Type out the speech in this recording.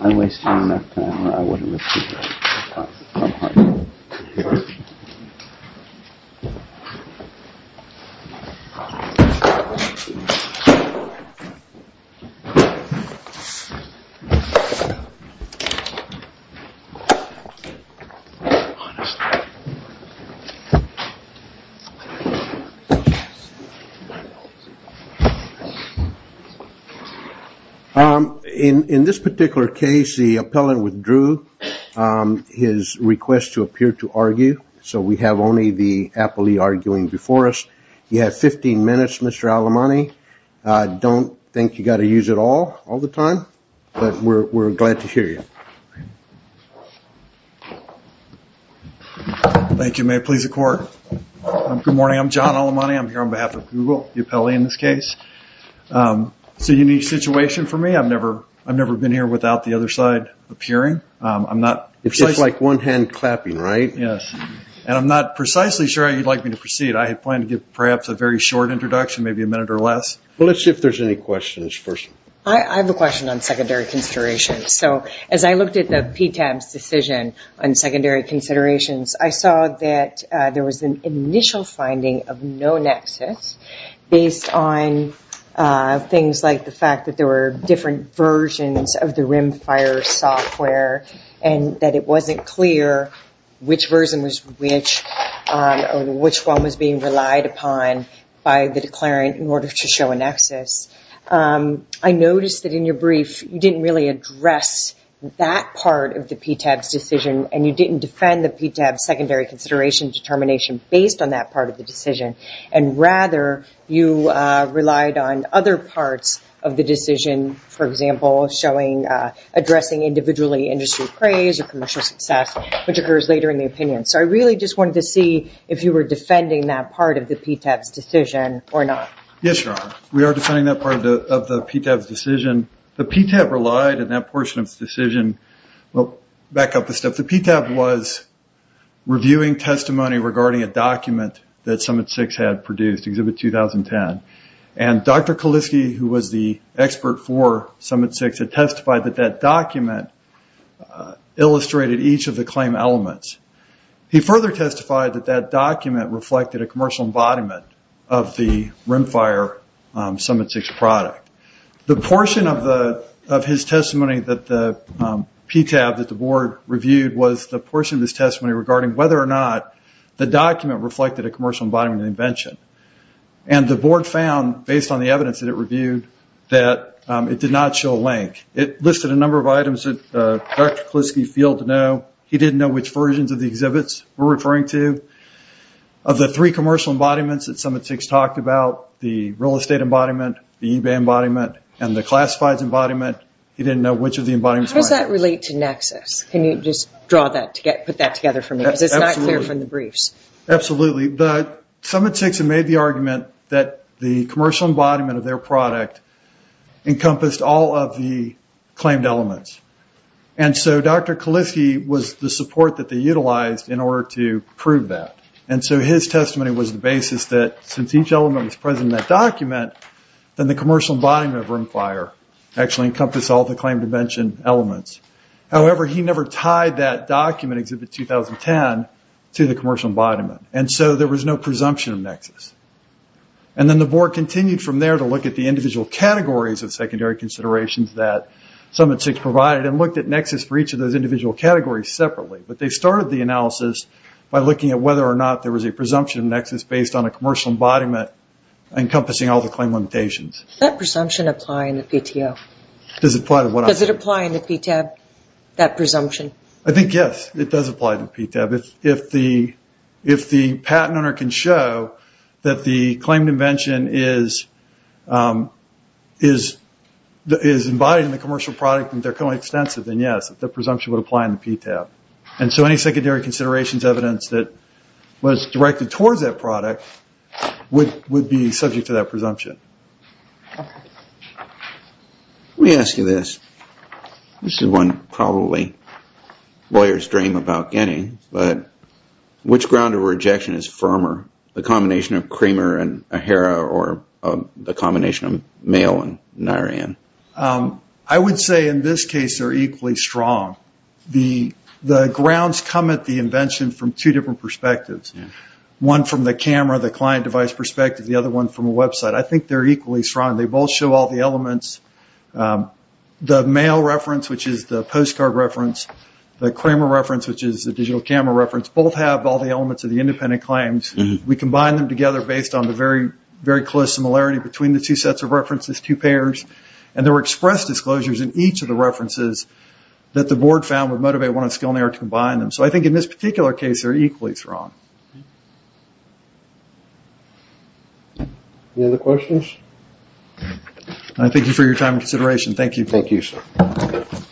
I Waste time In in this particular case the appellant withdrew His request to appear to argue so we have only the Apple II arguing before us. You have 15 minutes. Mr Alamani, I don't think you got to use it all all the time, but we're glad to hear you Thank You may please the court Good morning. I'm John all the money. I'm here on behalf of Google the appellee in this case It's a unique situation for me, I've never I've never been here without the other side appearing I'm not it's like one hand clapping, right? Yes, and I'm not precisely sure how you'd like me to proceed I had planned to give perhaps a very short introduction maybe a minute or less. Well, let's see if there's any questions first I have a question on secondary consideration. So as I looked at the p-tabs decision on secondary considerations I saw that there was an initial finding of no nexus Based on Things like the fact that there were different versions of the rimfire software and that it wasn't clear Which version was which? Which one was being relied upon by the declarant in order to show a nexus? I noticed that in your brief You didn't really address that part of the p-tabs decision and you didn't defend the p-tab secondary consideration Determination based on that part of the decision and rather you relied on other parts of the decision for example showing Addressing individually industry praise or commercial success which occurs later in the opinion So I really just wanted to see if you were defending that part of the p-tabs decision or not Yes, we are defending that part of the p-tabs decision the p-tab relied in that portion of the decision Well back up the step the p-tab was Reviewing testimony regarding a document that summit six had produced exhibit 2010 and Dr. Kuliski who was the expert for summit six had testified that that document Illustrated each of the claim elements He further testified that that document reflected a commercial embodiment of the rimfire summit six product the portion of the of his testimony that the P-tab that the board reviewed was the portion of his testimony regarding whether or not the document reflected a commercial embodiment invention and The board found based on the evidence that it reviewed that it did not show a link It listed a number of items that Dr. Kuliski failed to know. He didn't know which versions of the exhibits we're referring to Of the three commercial embodiments that summit six talked about the real estate embodiment the eBay embodiment and the classifieds embodiment He didn't know which of the embodiments. How does that relate to Nexus? Can you just draw that to get put that together for me as it's not clear from the briefs? Absolutely, but summit six and made the argument that the commercial embodiment of their product encompassed all of the claimed elements and So dr. Kuliski was the support that they utilized in order to prove that and so his testimony was the basis that since each element was present Document then the commercial embodiment of room fire actually encompassed all the claim to mention elements however, he never tied that document exhibit 2010 to the commercial embodiment and so there was no presumption of Nexus and Then the board continued from there to look at the individual categories of secondary considerations that Summit six provided and looked at Nexus for each of those individual categories separately But they started the analysis by looking at whether or not there was a presumption of Nexus based on a commercial embodiment Encompassing all the claim limitations that presumption apply in the PTO does it apply to what does it apply in the P tab? That presumption. I think yes, it does apply to p-tab if if the if the patent owner can show that the claim to mention is Is The is embodied in the commercial product and they're co-extensive and yes The presumption would apply in the P tab and so any secondary considerations evidence that was directed towards that product Would would be subject to that presumption We ask you this this is one probably lawyers dream about getting but which ground of rejection is firmer the combination of Kramer and a Hera or the combination of mail and Niran I Would say in this case are equally strong the the grounds come at the invention from two different perspectives One from the camera the client device perspective the other one from a website, I think they're equally strong They both show all the elements The mail reference which is the postcard reference the Kramer reference Which is the digital camera reference both have all the elements of the independent claims We combine them together based on the very very close similarity between the two sets of references two pairs And there were expressed disclosures in each of the references that the board found would motivate one of skill near to combine them So I think in this particular case are equally strong The other questions, I thank you for your time consideration. Thank you. Thank you